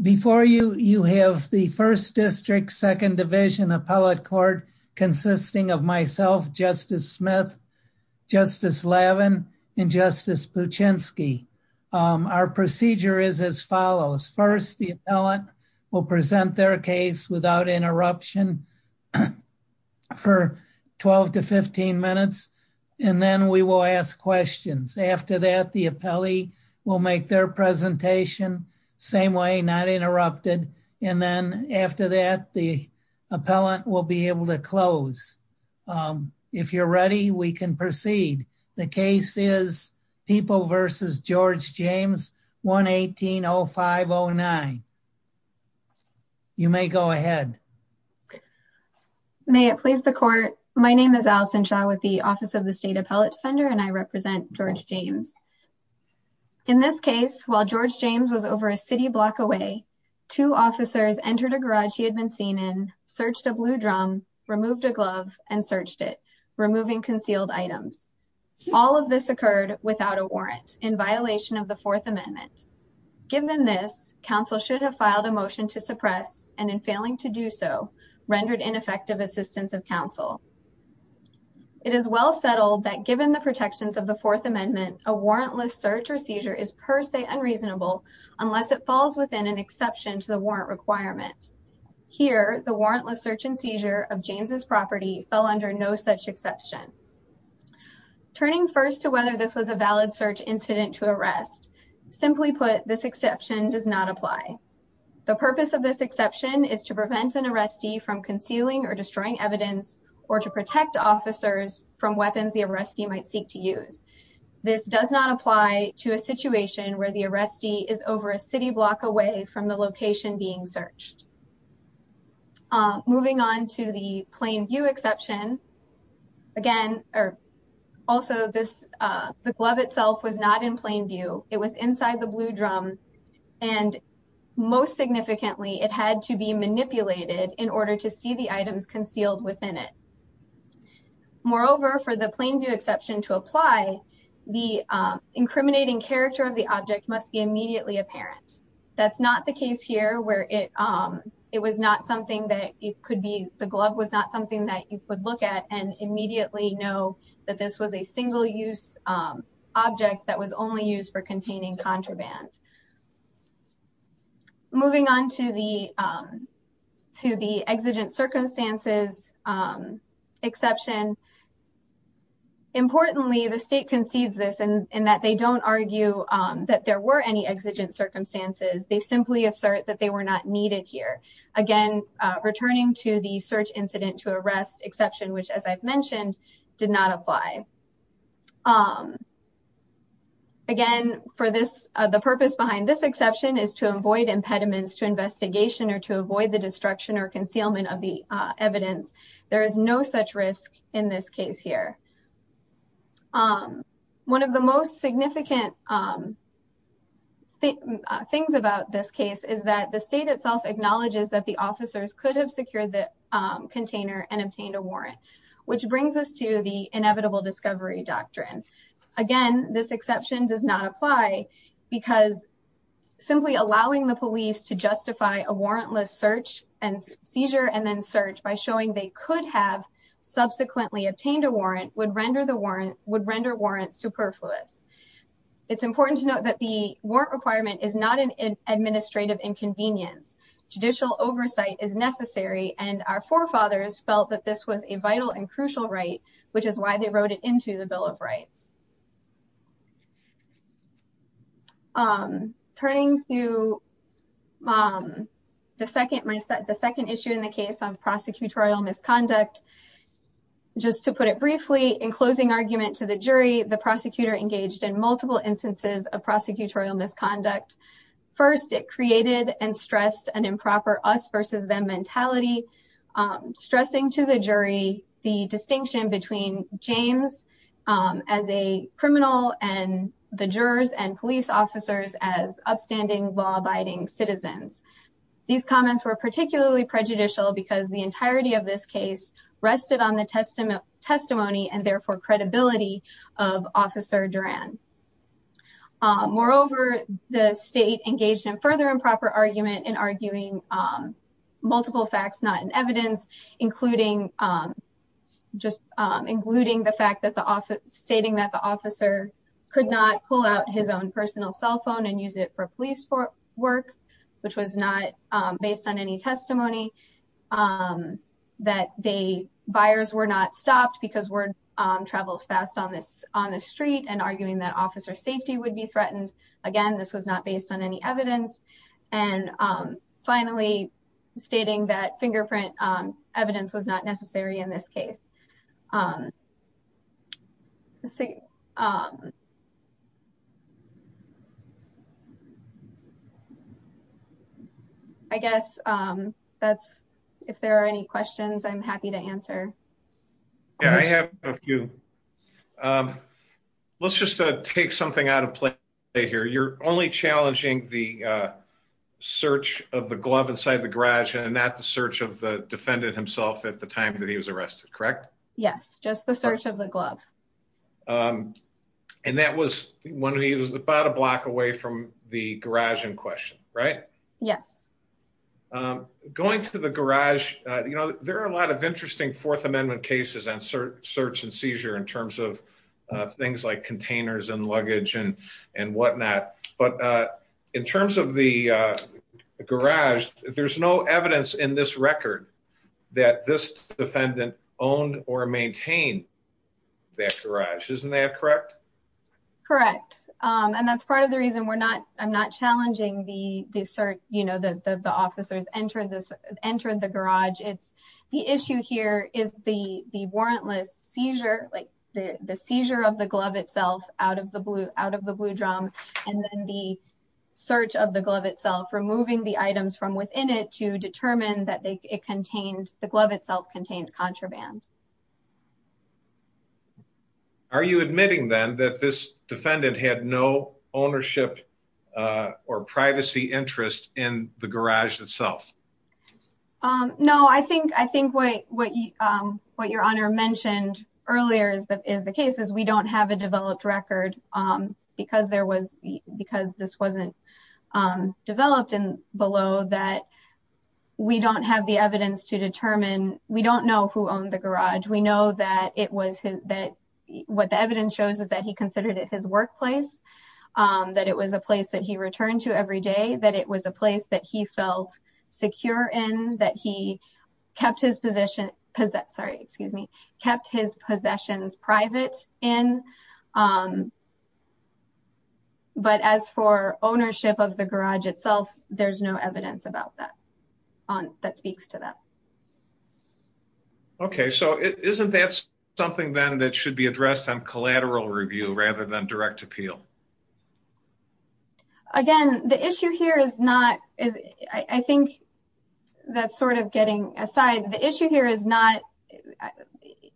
Before you, you have the 1st District, 2nd Division Appellate Court consisting of myself, Justice Smith, Justice Levin, and Justice Puchinsky. Our procedure is as follows. First, the appellant will present their case without interruption for 12-15 minutes, and then we will ask questions. After that, the appellee will make their presentation, same way, not interrupted, and then after that, the appellant will be able to close. If you're ready, we can proceed. The case is People v. George James, 1-18-0509. You may go ahead. May it please the Court. My name is Allison Shaw with the Office of the State Appellate Defender, and I represent George James. In this case, while George James was over a city block away, two officers entered a garage he had been seen in, searched a blue drum, removed a glove, and searched it, removing concealed items. All of this occurred without a warrant, in violation of the Fourth Amendment. Given this, Council should have filed a motion to suppress, and in failing to do so, rendered ineffective assistance of Council. It is well settled that, given the protections of the Fourth Amendment, a warrantless search or seizure is per se unreasonable, unless it falls within an exception to the warrant requirement. Here, the warrantless search and seizure of James' property fell under no such exception. Turning first to whether this was a valid search incident to arrest, simply put, this exception does not apply. The purpose of this exception is to prevent an arrestee from concealing or destroying evidence, or to protect officers from weapons the arrestee might seek to use. This does not apply to a situation where the arrestee is over a city block away from the location being searched. Moving on to the plain view exception, again, or also this, the glove itself was not in plain view. It was inside the blue drum, and most significantly, it had to be manipulated in order to see the items concealed within it. Moreover, for the plain view exception to apply, the incriminating character of the object must be immediately apparent. That's not the case here, where it was not something that it could be, the glove was not something that you could look at and immediately know that this was a single-use object that was only used for containing contraband. Moving on to the exigent circumstances exception, importantly, the state concedes this in that they don't argue that there were any exigent circumstances. They simply assert that they were not needed here. Again, returning to the search incident to arrest exception, which as I've mentioned, did not apply. Again, for this, the purpose behind this exception is to avoid impediments to investigation or to avoid the destruction or concealment of the evidence. There is no such risk in this case here. One of the most significant things about this case is that the state itself acknowledges that officers could have secured the container and obtained a warrant, which brings us to the inevitable discovery doctrine. Again, this exception does not apply because simply allowing the police to justify a warrantless search and seizure and then search by showing they could have subsequently obtained a warrant would render warrants superfluous. It's important to note that the warrant requirement is not an administrative inconvenience. Judicial oversight is necessary, and our forefathers felt that this was a vital and crucial right, which is why they wrote it into the Bill of Rights. Turning to the second issue in the case on prosecutorial misconduct, just to put it briefly, in closing argument to the jury, the prosecutor engaged in multiple instances of prosecutorial misconduct. First, it created and stressed an improper us-versus-them mentality, stressing to the jury the distinction between James as a criminal and the jurors and police officers as upstanding, law-abiding citizens. These comments were particularly prejudicial because the entirety of this case rested on the testimony and therefore credibility of Officer Duran. Moreover, the state engaged in further improper argument in arguing multiple facts not in evidence, including the fact that the officer could not pull out his own personal cell phone and use it for police work, which was not based on any testimony, that the buyers were not stopped because word travels fast on the street, and arguing that officer safety would be threatened, again, this was not based on any evidence, and finally, stating that fingerprint evidence was not necessary in this case. I guess that's, if there are any questions, I'm happy to answer. Yeah, I have a few. Let's just take something out of play here. You're only challenging the search of the glove inside the garage and not the search of the defendant himself at the time Yes, just the search of the glove. And that was when he was about a block away from the garage in question, right? Yes. Going to the garage, you know, there are a lot of interesting Fourth Amendment cases and search and seizure in terms of things like containers and luggage and whatnot. But in terms of the maintain that garage, isn't that correct? Correct. And that's part of the reason we're not, I'm not challenging the search, you know, that the officers entered the garage. It's the issue here is the warrantless seizure, like the seizure of the glove itself out of the blue drum, and then the search of the glove itself, removing the items from within it to determine that it contained, the glove itself contained contraband. Correct. Are you admitting then that this defendant had no ownership or privacy interest in the garage itself? No, I think what your honor mentioned earlier is the case is we don't have a developed record because there was, because this wasn't developed and below that we don't have the evidence to know that it was, that what the evidence shows is that he considered it his workplace, that it was a place that he returned to every day, that it was a place that he felt secure in, that he kept his position, sorry, excuse me, kept his possessions private in. But as for ownership of the garage itself, there's no evidence about that, that speaks to that. Okay, so isn't that something then that should be addressed on collateral review rather than direct appeal? Again, the issue here is not, I think that's sort of getting aside, the issue here is not,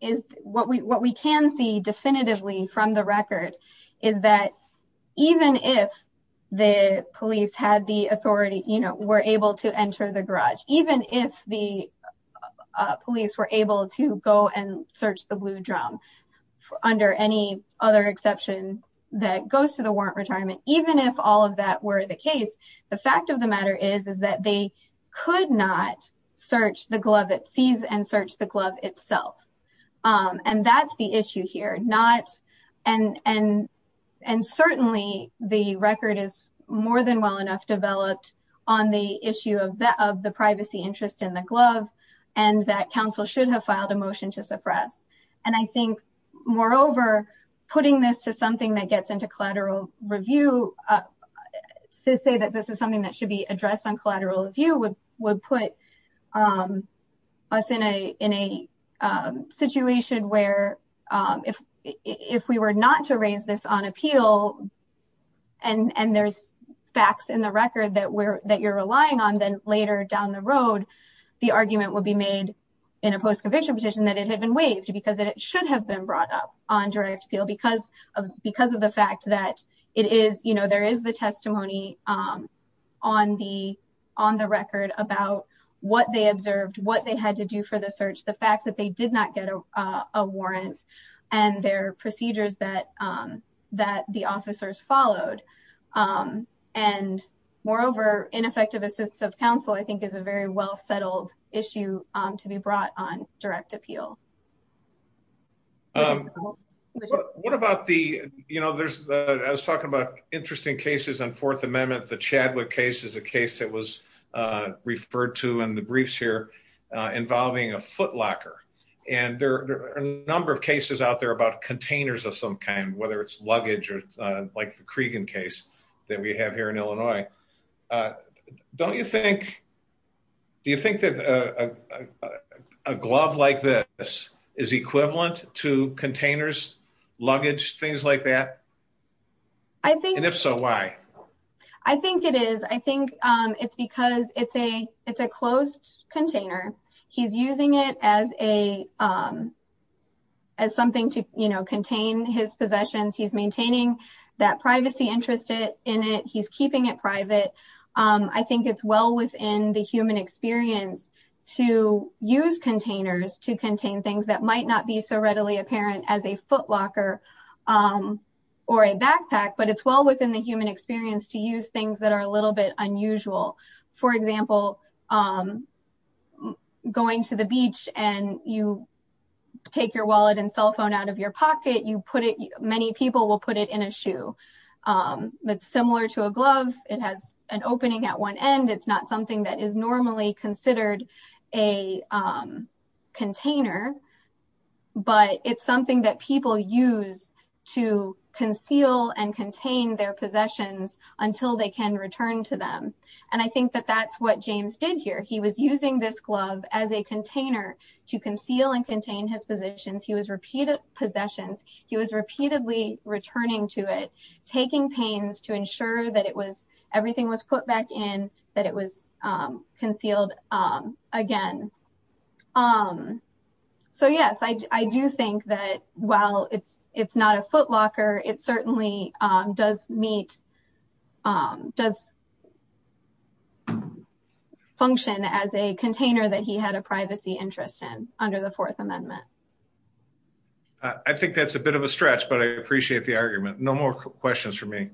is what we can see definitively from the record is that even if the police had the authority, were able to enter the garage, even if the police were able to go and search the blue drum under any other exception that goes to the warrant retirement, even if all of that were the case, the fact of the matter is, is that they could not search the glove it sees and search the glove itself. And that's the issue here, not, and certainly the record is more than well enough developed on the issue of the privacy interest in the glove and that council should have filed a motion to suppress. And I think moreover, putting this to something that gets into collateral review to say that this is something that should be addressed on collateral review would put us in a situation where if we were not to raise this on appeal, and there's facts in the record that you're relying on, then later down the road, the argument would be made in a post-conviction petition that it had been waived because it should have been brought up on direct appeal because of the fact that it is, you know, there is the testimony on the record about what they observed, what they had to do for the search, the fact they did not get a warrant and their procedures that the officers followed. And moreover, ineffective assistance of council, I think is a very well settled issue to be brought on direct appeal. What about the, you know, there's, I was talking about interesting cases on fourth amendment, the Chadwick case is a case that was referred to in the briefs here, involving a locker. And there are a number of cases out there about containers of some kind, whether it's luggage or like the Cregan case that we have here in Illinois. Don't you think, do you think that a glove like this is equivalent to containers, luggage, things like that? And if so, why? I think it is, I think it's because it's a, it's a closed container. He's using it as a, as something to, you know, contain his possessions. He's maintaining that privacy interest in it. He's keeping it private. I think it's well within the human experience to use containers to contain things that might not be so readily apparent as a foot pack, but it's well within the human experience to use things that are a little bit unusual. For example, going to the beach and you take your wallet and cell phone out of your pocket, you put it, many people will put it in a shoe. It's similar to a glove. It has an opening at one end. It's not something that is normally considered a container, but it's something that people use to conceal and contain their possessions until they can return to them. And I think that that's what James did here. He was using this glove as a container to conceal and contain his possessions. He was repeatedly returning to it, taking pains to ensure that it was, everything was put back in, that it was concealed again. So yes, I do think that while it's not a footlocker, it certainly does meet, does function as a container that he had a privacy interest in under the Fourth Amendment. I think that's a bit of a stretch, but I appreciate the argument. No more questions for me.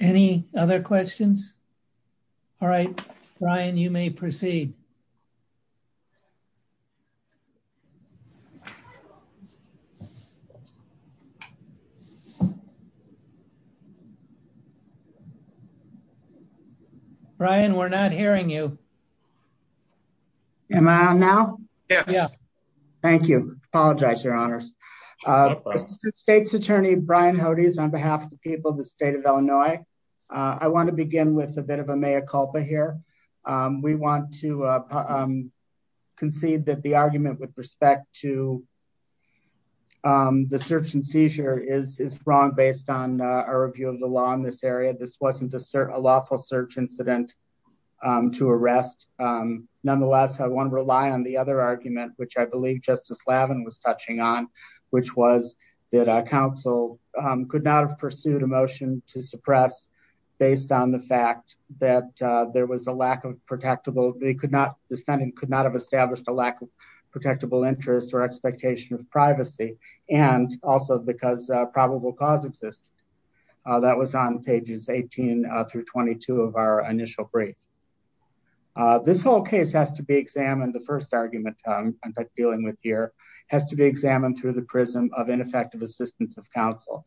Any other questions? All right, Brian, you may proceed. Brian, we're not hearing you. Am I on now? Yes. Thank you. Apologize, your honors. This is the state's attorney, Brian Hodes, on behalf of the people of the state of Illinois. I want to begin with a bit of a mea here. We want to concede that the argument with respect to the search and seizure is wrong based on our review of the law in this area. This wasn't a lawful search incident to arrest. Nonetheless, I want to rely on the other argument, which I believe Justice Lavin was touching on, which was that a council could not have pursued a motion to suppress based on the fact that the spending could not have established a lack of protectable interest or expectation of privacy, and also because probable cause existed. That was on pages 18 through 22 of our initial brief. This whole case has to be examined, the first argument I'm dealing with here, has to be examined through the prism of ineffective assistance of counsel,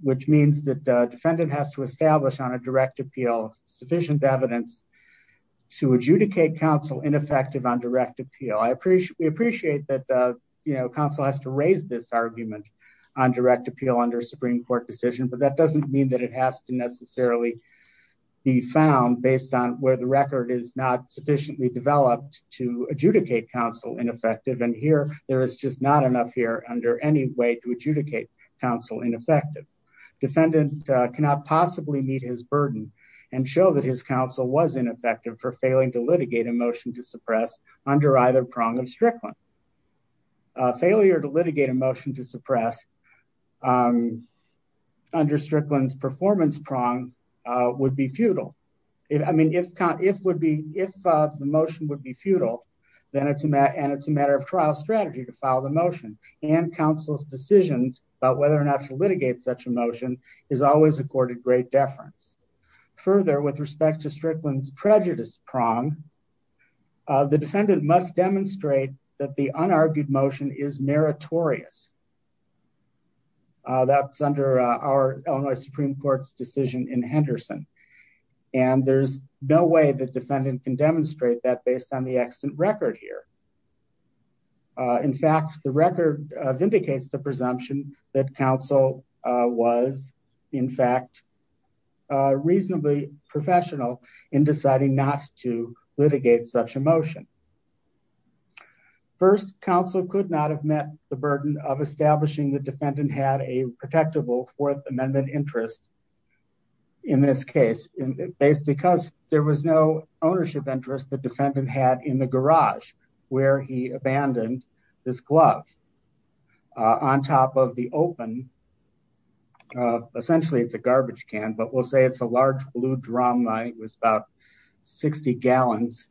which means that the defendant has to establish on a direct appeal sufficient evidence to adjudicate counsel ineffective on direct appeal. We appreciate that counsel has to raise this argument on direct appeal under a Supreme Court decision, but that doesn't mean that it has to necessarily be found based on where the record is not sufficiently developed to adjudicate counsel ineffective. Here, there is just not enough here under any way to adjudicate counsel ineffective. Defendant cannot possibly meet his burden and show that his counsel was ineffective for failing to litigate a motion to suppress under either prong of Strickland. A failure to litigate a motion to suppress under Strickland's performance prong would be futile. If the motion would be futile, then it's a matter of trial strategy to file the motion and counsel's decisions about whether or not to litigate such a motion is always accorded great deference. Further, with respect to Strickland's prejudice prong, the defendant must demonstrate that the unargued motion is meritorious. That's under our Illinois Supreme Court's decision in Henderson, and there's no way the defendant can demonstrate that based on the extant record here. In fact, the record vindicates the presumption that counsel was, in fact, reasonably professional in deciding not to litigate such a motion. First, counsel could not have met the burden of establishing the defendant had a protectable Fourth Amendment interest in this case, because there was no ownership interest the defendant had in the garage where he abandoned this glove on top of the open, essentially it's a garbage can, but we'll say it's a large blue drum line. It was about 60 gallons,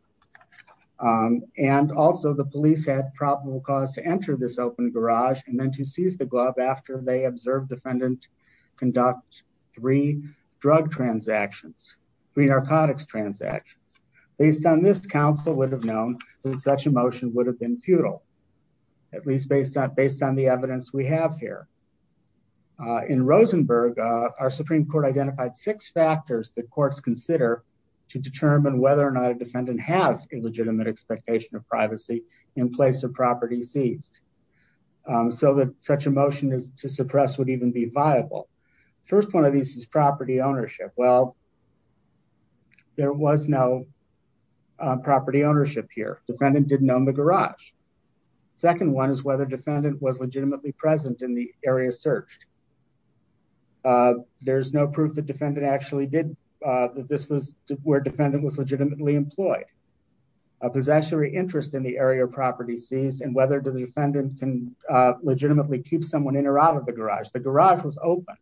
and also the police had probable cause to enter this open garage and then to seize the glove after they observed defendant conduct three drug transactions, three narcotics transactions. Based on this, counsel would have known that such a motion would have been futile, at least based on the evidence we have here. In Rosenberg, our Supreme Court identified six factors that courts consider to determine whether or not a defendant has a legitimate expectation of privacy in place of property seized, so that such a motion to suppress would even be viable. First one of these is property ownership. Well, there was no property ownership here. Defendant didn't own the garage. Second one is whether defendant was legitimately present in the area searched. There's no proof that defendant actually did. This was where defendant was and whether the defendant can legitimately keep someone in or out of the garage. The garage was open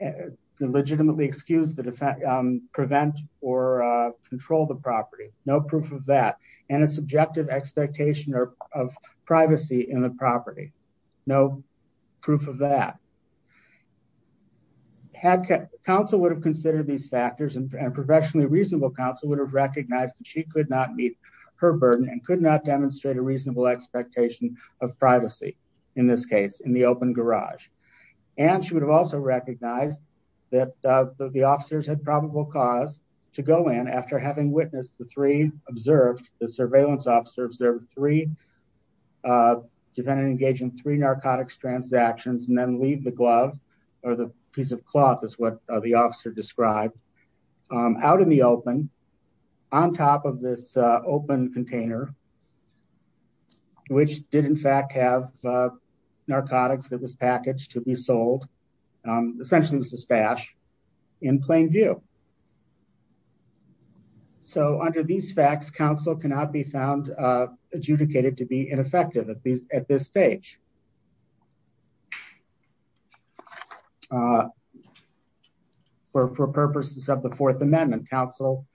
and legitimately excused to prevent or control the property. No proof of that, and a subjective expectation of privacy in the property. No proof of that. Counsel would have considered these factors and professionally reasonable counsel would have recognized that she could not meet her burden and could not demonstrate a reasonable expectation of privacy in this case in the open garage. She would have also recognized that the officers had probable cause to go in after having witnessed the three observed, the surveillance officers, there were three defendants engaging in three narcotic transactions and then leave the glove or the piece of cloth is what the officer described out in the open on top of this open container, which did in fact have narcotics that was packaged to be sold. Essentially, it was a stash in plain view. So under these facts, counsel cannot be found adjudicated to be ineffective at this stage. For purposes of the fourth amendment, counsel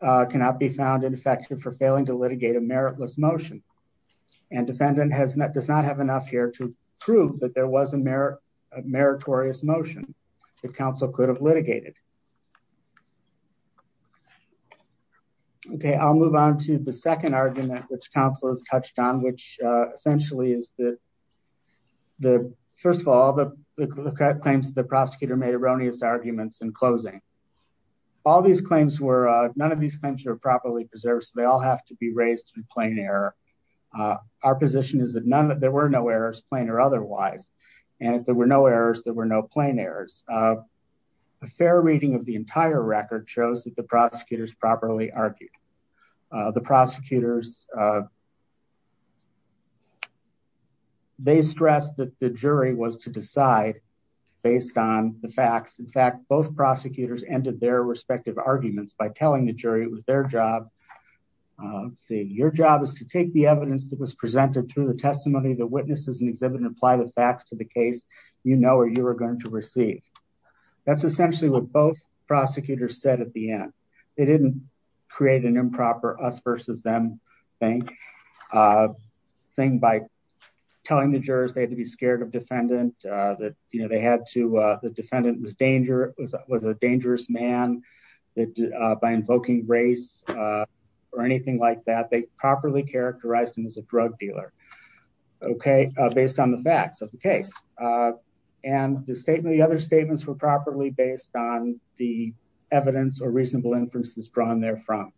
cannot be found ineffective for failing to litigate a meritless motion and defendant does not have enough here to prove that there was a meritorious motion that counsel could have litigated. Okay, I'll move on to the second argument which counsel has touched on, which essentially is that the first of all, the claims that the prosecutor made erroneous arguments in closing. All these claims were, none of these claims are properly preserved, so they all have to be raised in plain error. Our position is that there were no errors, plain or otherwise, and if there were no errors, there were no plain errors. A fair reading of the entire record shows that the stress that the jury was to decide based on the facts. In fact, both prosecutors ended their respective arguments by telling the jury it was their job. Let's see, your job is to take the evidence that was presented through the testimony of the witnesses and exhibit and apply the facts to the case you know or you were going to receive. That's essentially what both prosecutors said at the end. They didn't create an improper us versus them thing by telling the jurors they had to be scared of defendant, that the defendant was a dangerous man by invoking race or anything like that. They properly characterized him as a drug dealer, okay, based on the facts of the case. And the other statements were properly based on the evidence or reasonable inferences drawn there from.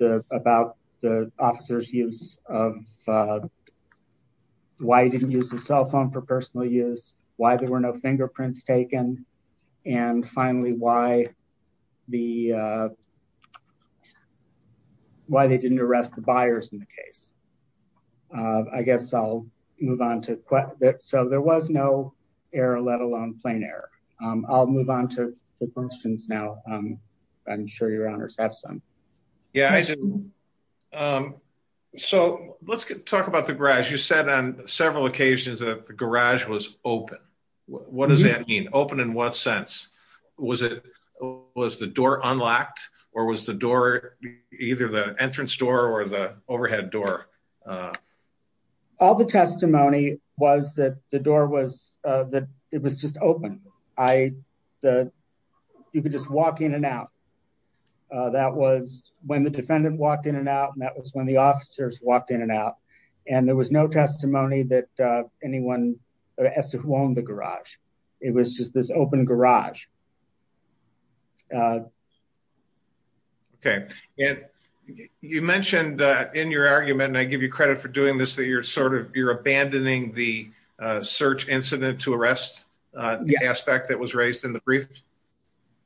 About the officer's use of, why he didn't use his cell phone for personal use, why there were no fingerprints taken, and finally, why they didn't arrest the buyers in the case. I guess I'll move on to, so there was no error, let alone plain error. I'll move on to the questions now. I'm sure your honors have some. Yeah, I do. So let's talk about the garage. You said on several occasions that the garage was open. What does that mean? Open in what sense? Was the door unlocked or was the door either the entrance door or the overhead door? All the testimony was that the door was, that it was just open. You could just walk in and out. That was when the defendant walked in and out, and that was when the officers walked in and out. And there was no testimony that anyone, as to who owned the garage. It was just this open garage. Okay. And you mentioned in your argument, and I give you credit for doing this, that you're sort of, you're abandoning the search incident to arrest aspect that was raised in the brief.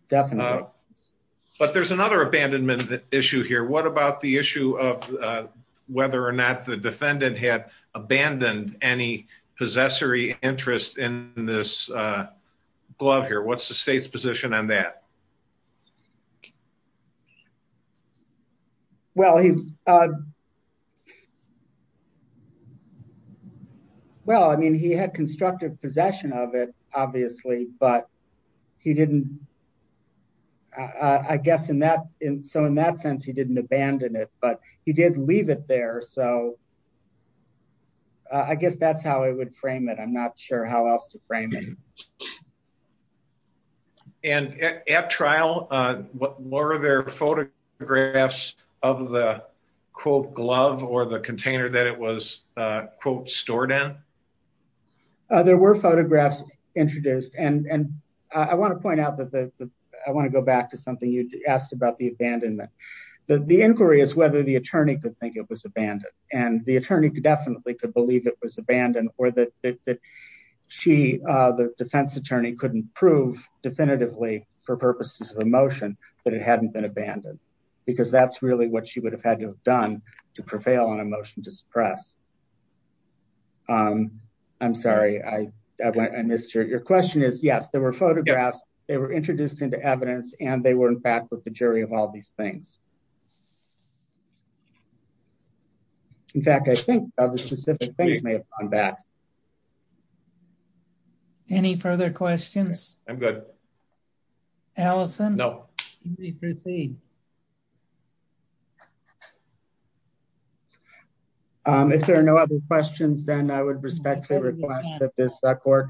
Definitely. But there's another abandonment issue here. What about the issue of whether or not the defendant had abandoned any possessory interest in this glove here? What's the state's position on that? Well, he, well, I mean, he had constructive possession of it, obviously, but he didn't, I guess in that, so in that sense, he didn't abandon it, but he did leave it there. So I guess that's how I would frame it. I'm not sure how else to frame it. And at trial, were there photographs of the quote glove or the container that it was quote stored in? There were photographs introduced, and I want to point out that I want to go back to something you asked about the abandonment. The inquiry is whether the and the attorney could definitely could believe it was abandoned or that she, the defense attorney couldn't prove definitively for purposes of emotion, but it hadn't been abandoned because that's really what she would have had to have done to prevail on a motion to suppress. I'm sorry. I missed your, your question is yes, there were photographs. They were introduced into evidence and they were in fact with the jury of all these things. In fact, I think the specific things may have gone bad. Any further questions? I'm good. Allison? No. If there are no other questions, then I would respectfully request that this court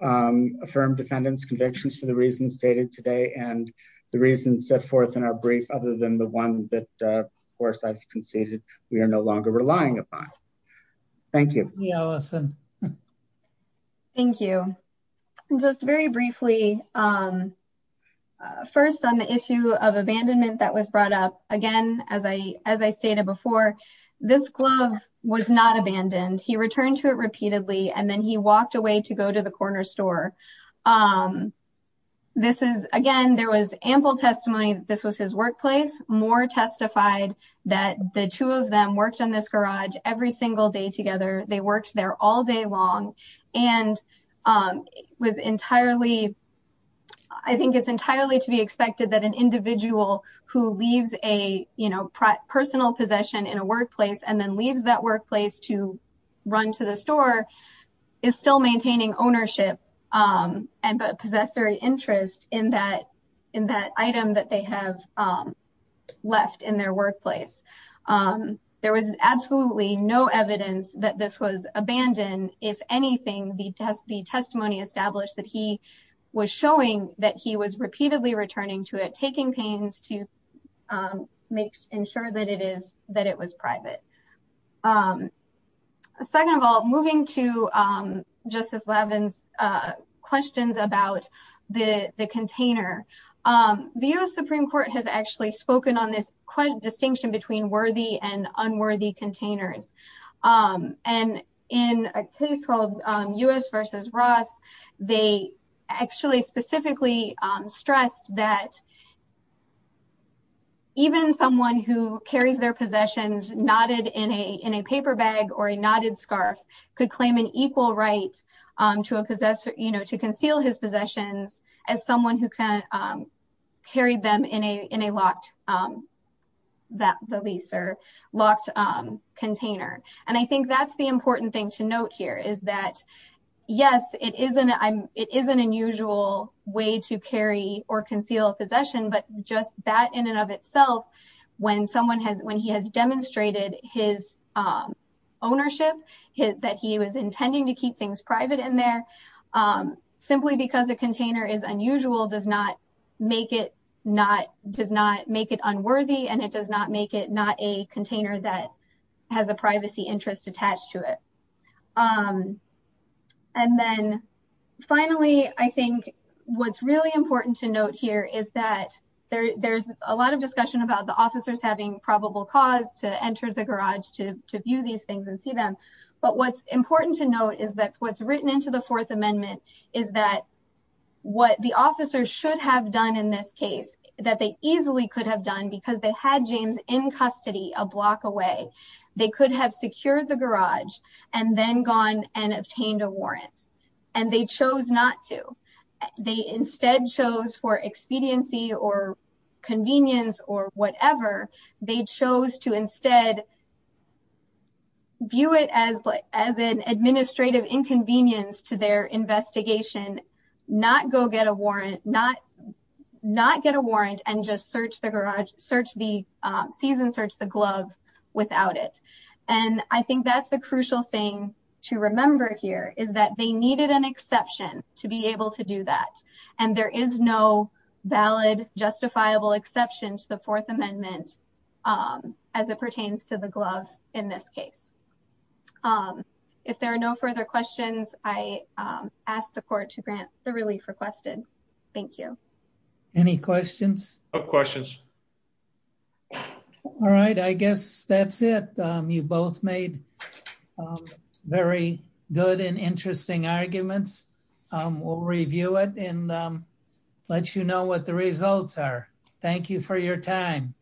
affirm defendant's convictions for the reasons stated today and the reasons set forth in our relying upon. Thank you. Thank you. Just very briefly. First on the issue of abandonment that was brought up again, as I, as I stated before, this glove was not abandoned. He returned to it repeatedly and then he walked away to go to the corner store. This is again, there was ample testimony that this was his workplace. More testified that the two of them worked in this garage every single day together. They worked there all day long and was entirely, I think it's entirely to be expected that an individual who leaves a, you know, personal possession in a workplace and then leaves that workplace to run to the store is still maintaining ownership and possessory interest in that, in that item that they have left in their workplace. There was absolutely no evidence that this was abandoned. If anything, the test, the testimony established that he was showing that he was repeatedly returning to it, taking pains to make sure that it is, that it was private. Second of all, moving to Justice Levin's questions about the container, the U.S. Supreme Court has actually spoken on this distinction between worthy and unworthy containers. And in a case called U.S. versus Ross, they actually specifically stressed that even someone who carries their possessions knotted in a, in a paper bag or a knotted scarf could claim an equal right to a possessor, you know, to conceal his possessions as someone who carried them in a, in a locked, that the lease or locked container. And I think that's the it is an unusual way to carry or conceal a possession, but just that in and of itself, when someone has, when he has demonstrated his ownership, that he was intending to keep things private in there, simply because the container is unusual does not make it not, does not make it unworthy. And it does not make it not a container that has a privacy interest attached to it. And then finally, I think what's really important to note here is that there, there's a lot of discussion about the officers having probable cause to enter the garage, to, to view these things and see them. But what's important to note is that what's written into the fourth amendment is that what the officers should have done in this case that they easily could have done because they had James in custody a block away, they could have secured the garage and then gone and obtained a warrant. And they chose not to, they instead chose for expediency or convenience or whatever, they chose to instead view it as, as an administrative inconvenience to their investigation, not go get a warrant, not, not get a warrant and just search the garage, search the season, search the glove without it. And I think that's the crucial thing to remember here is that they needed an exception to be able to do that. And there is no valid justifiable exception to the fourth amendment as it pertains to the glove in this case. If there are no further questions, I ask the court to grant the relief requested. Thank you. Any questions? No questions. All right. I guess that's it. You both made very good and interesting arguments. We'll review it and let you know what the results are. Thank you for your time.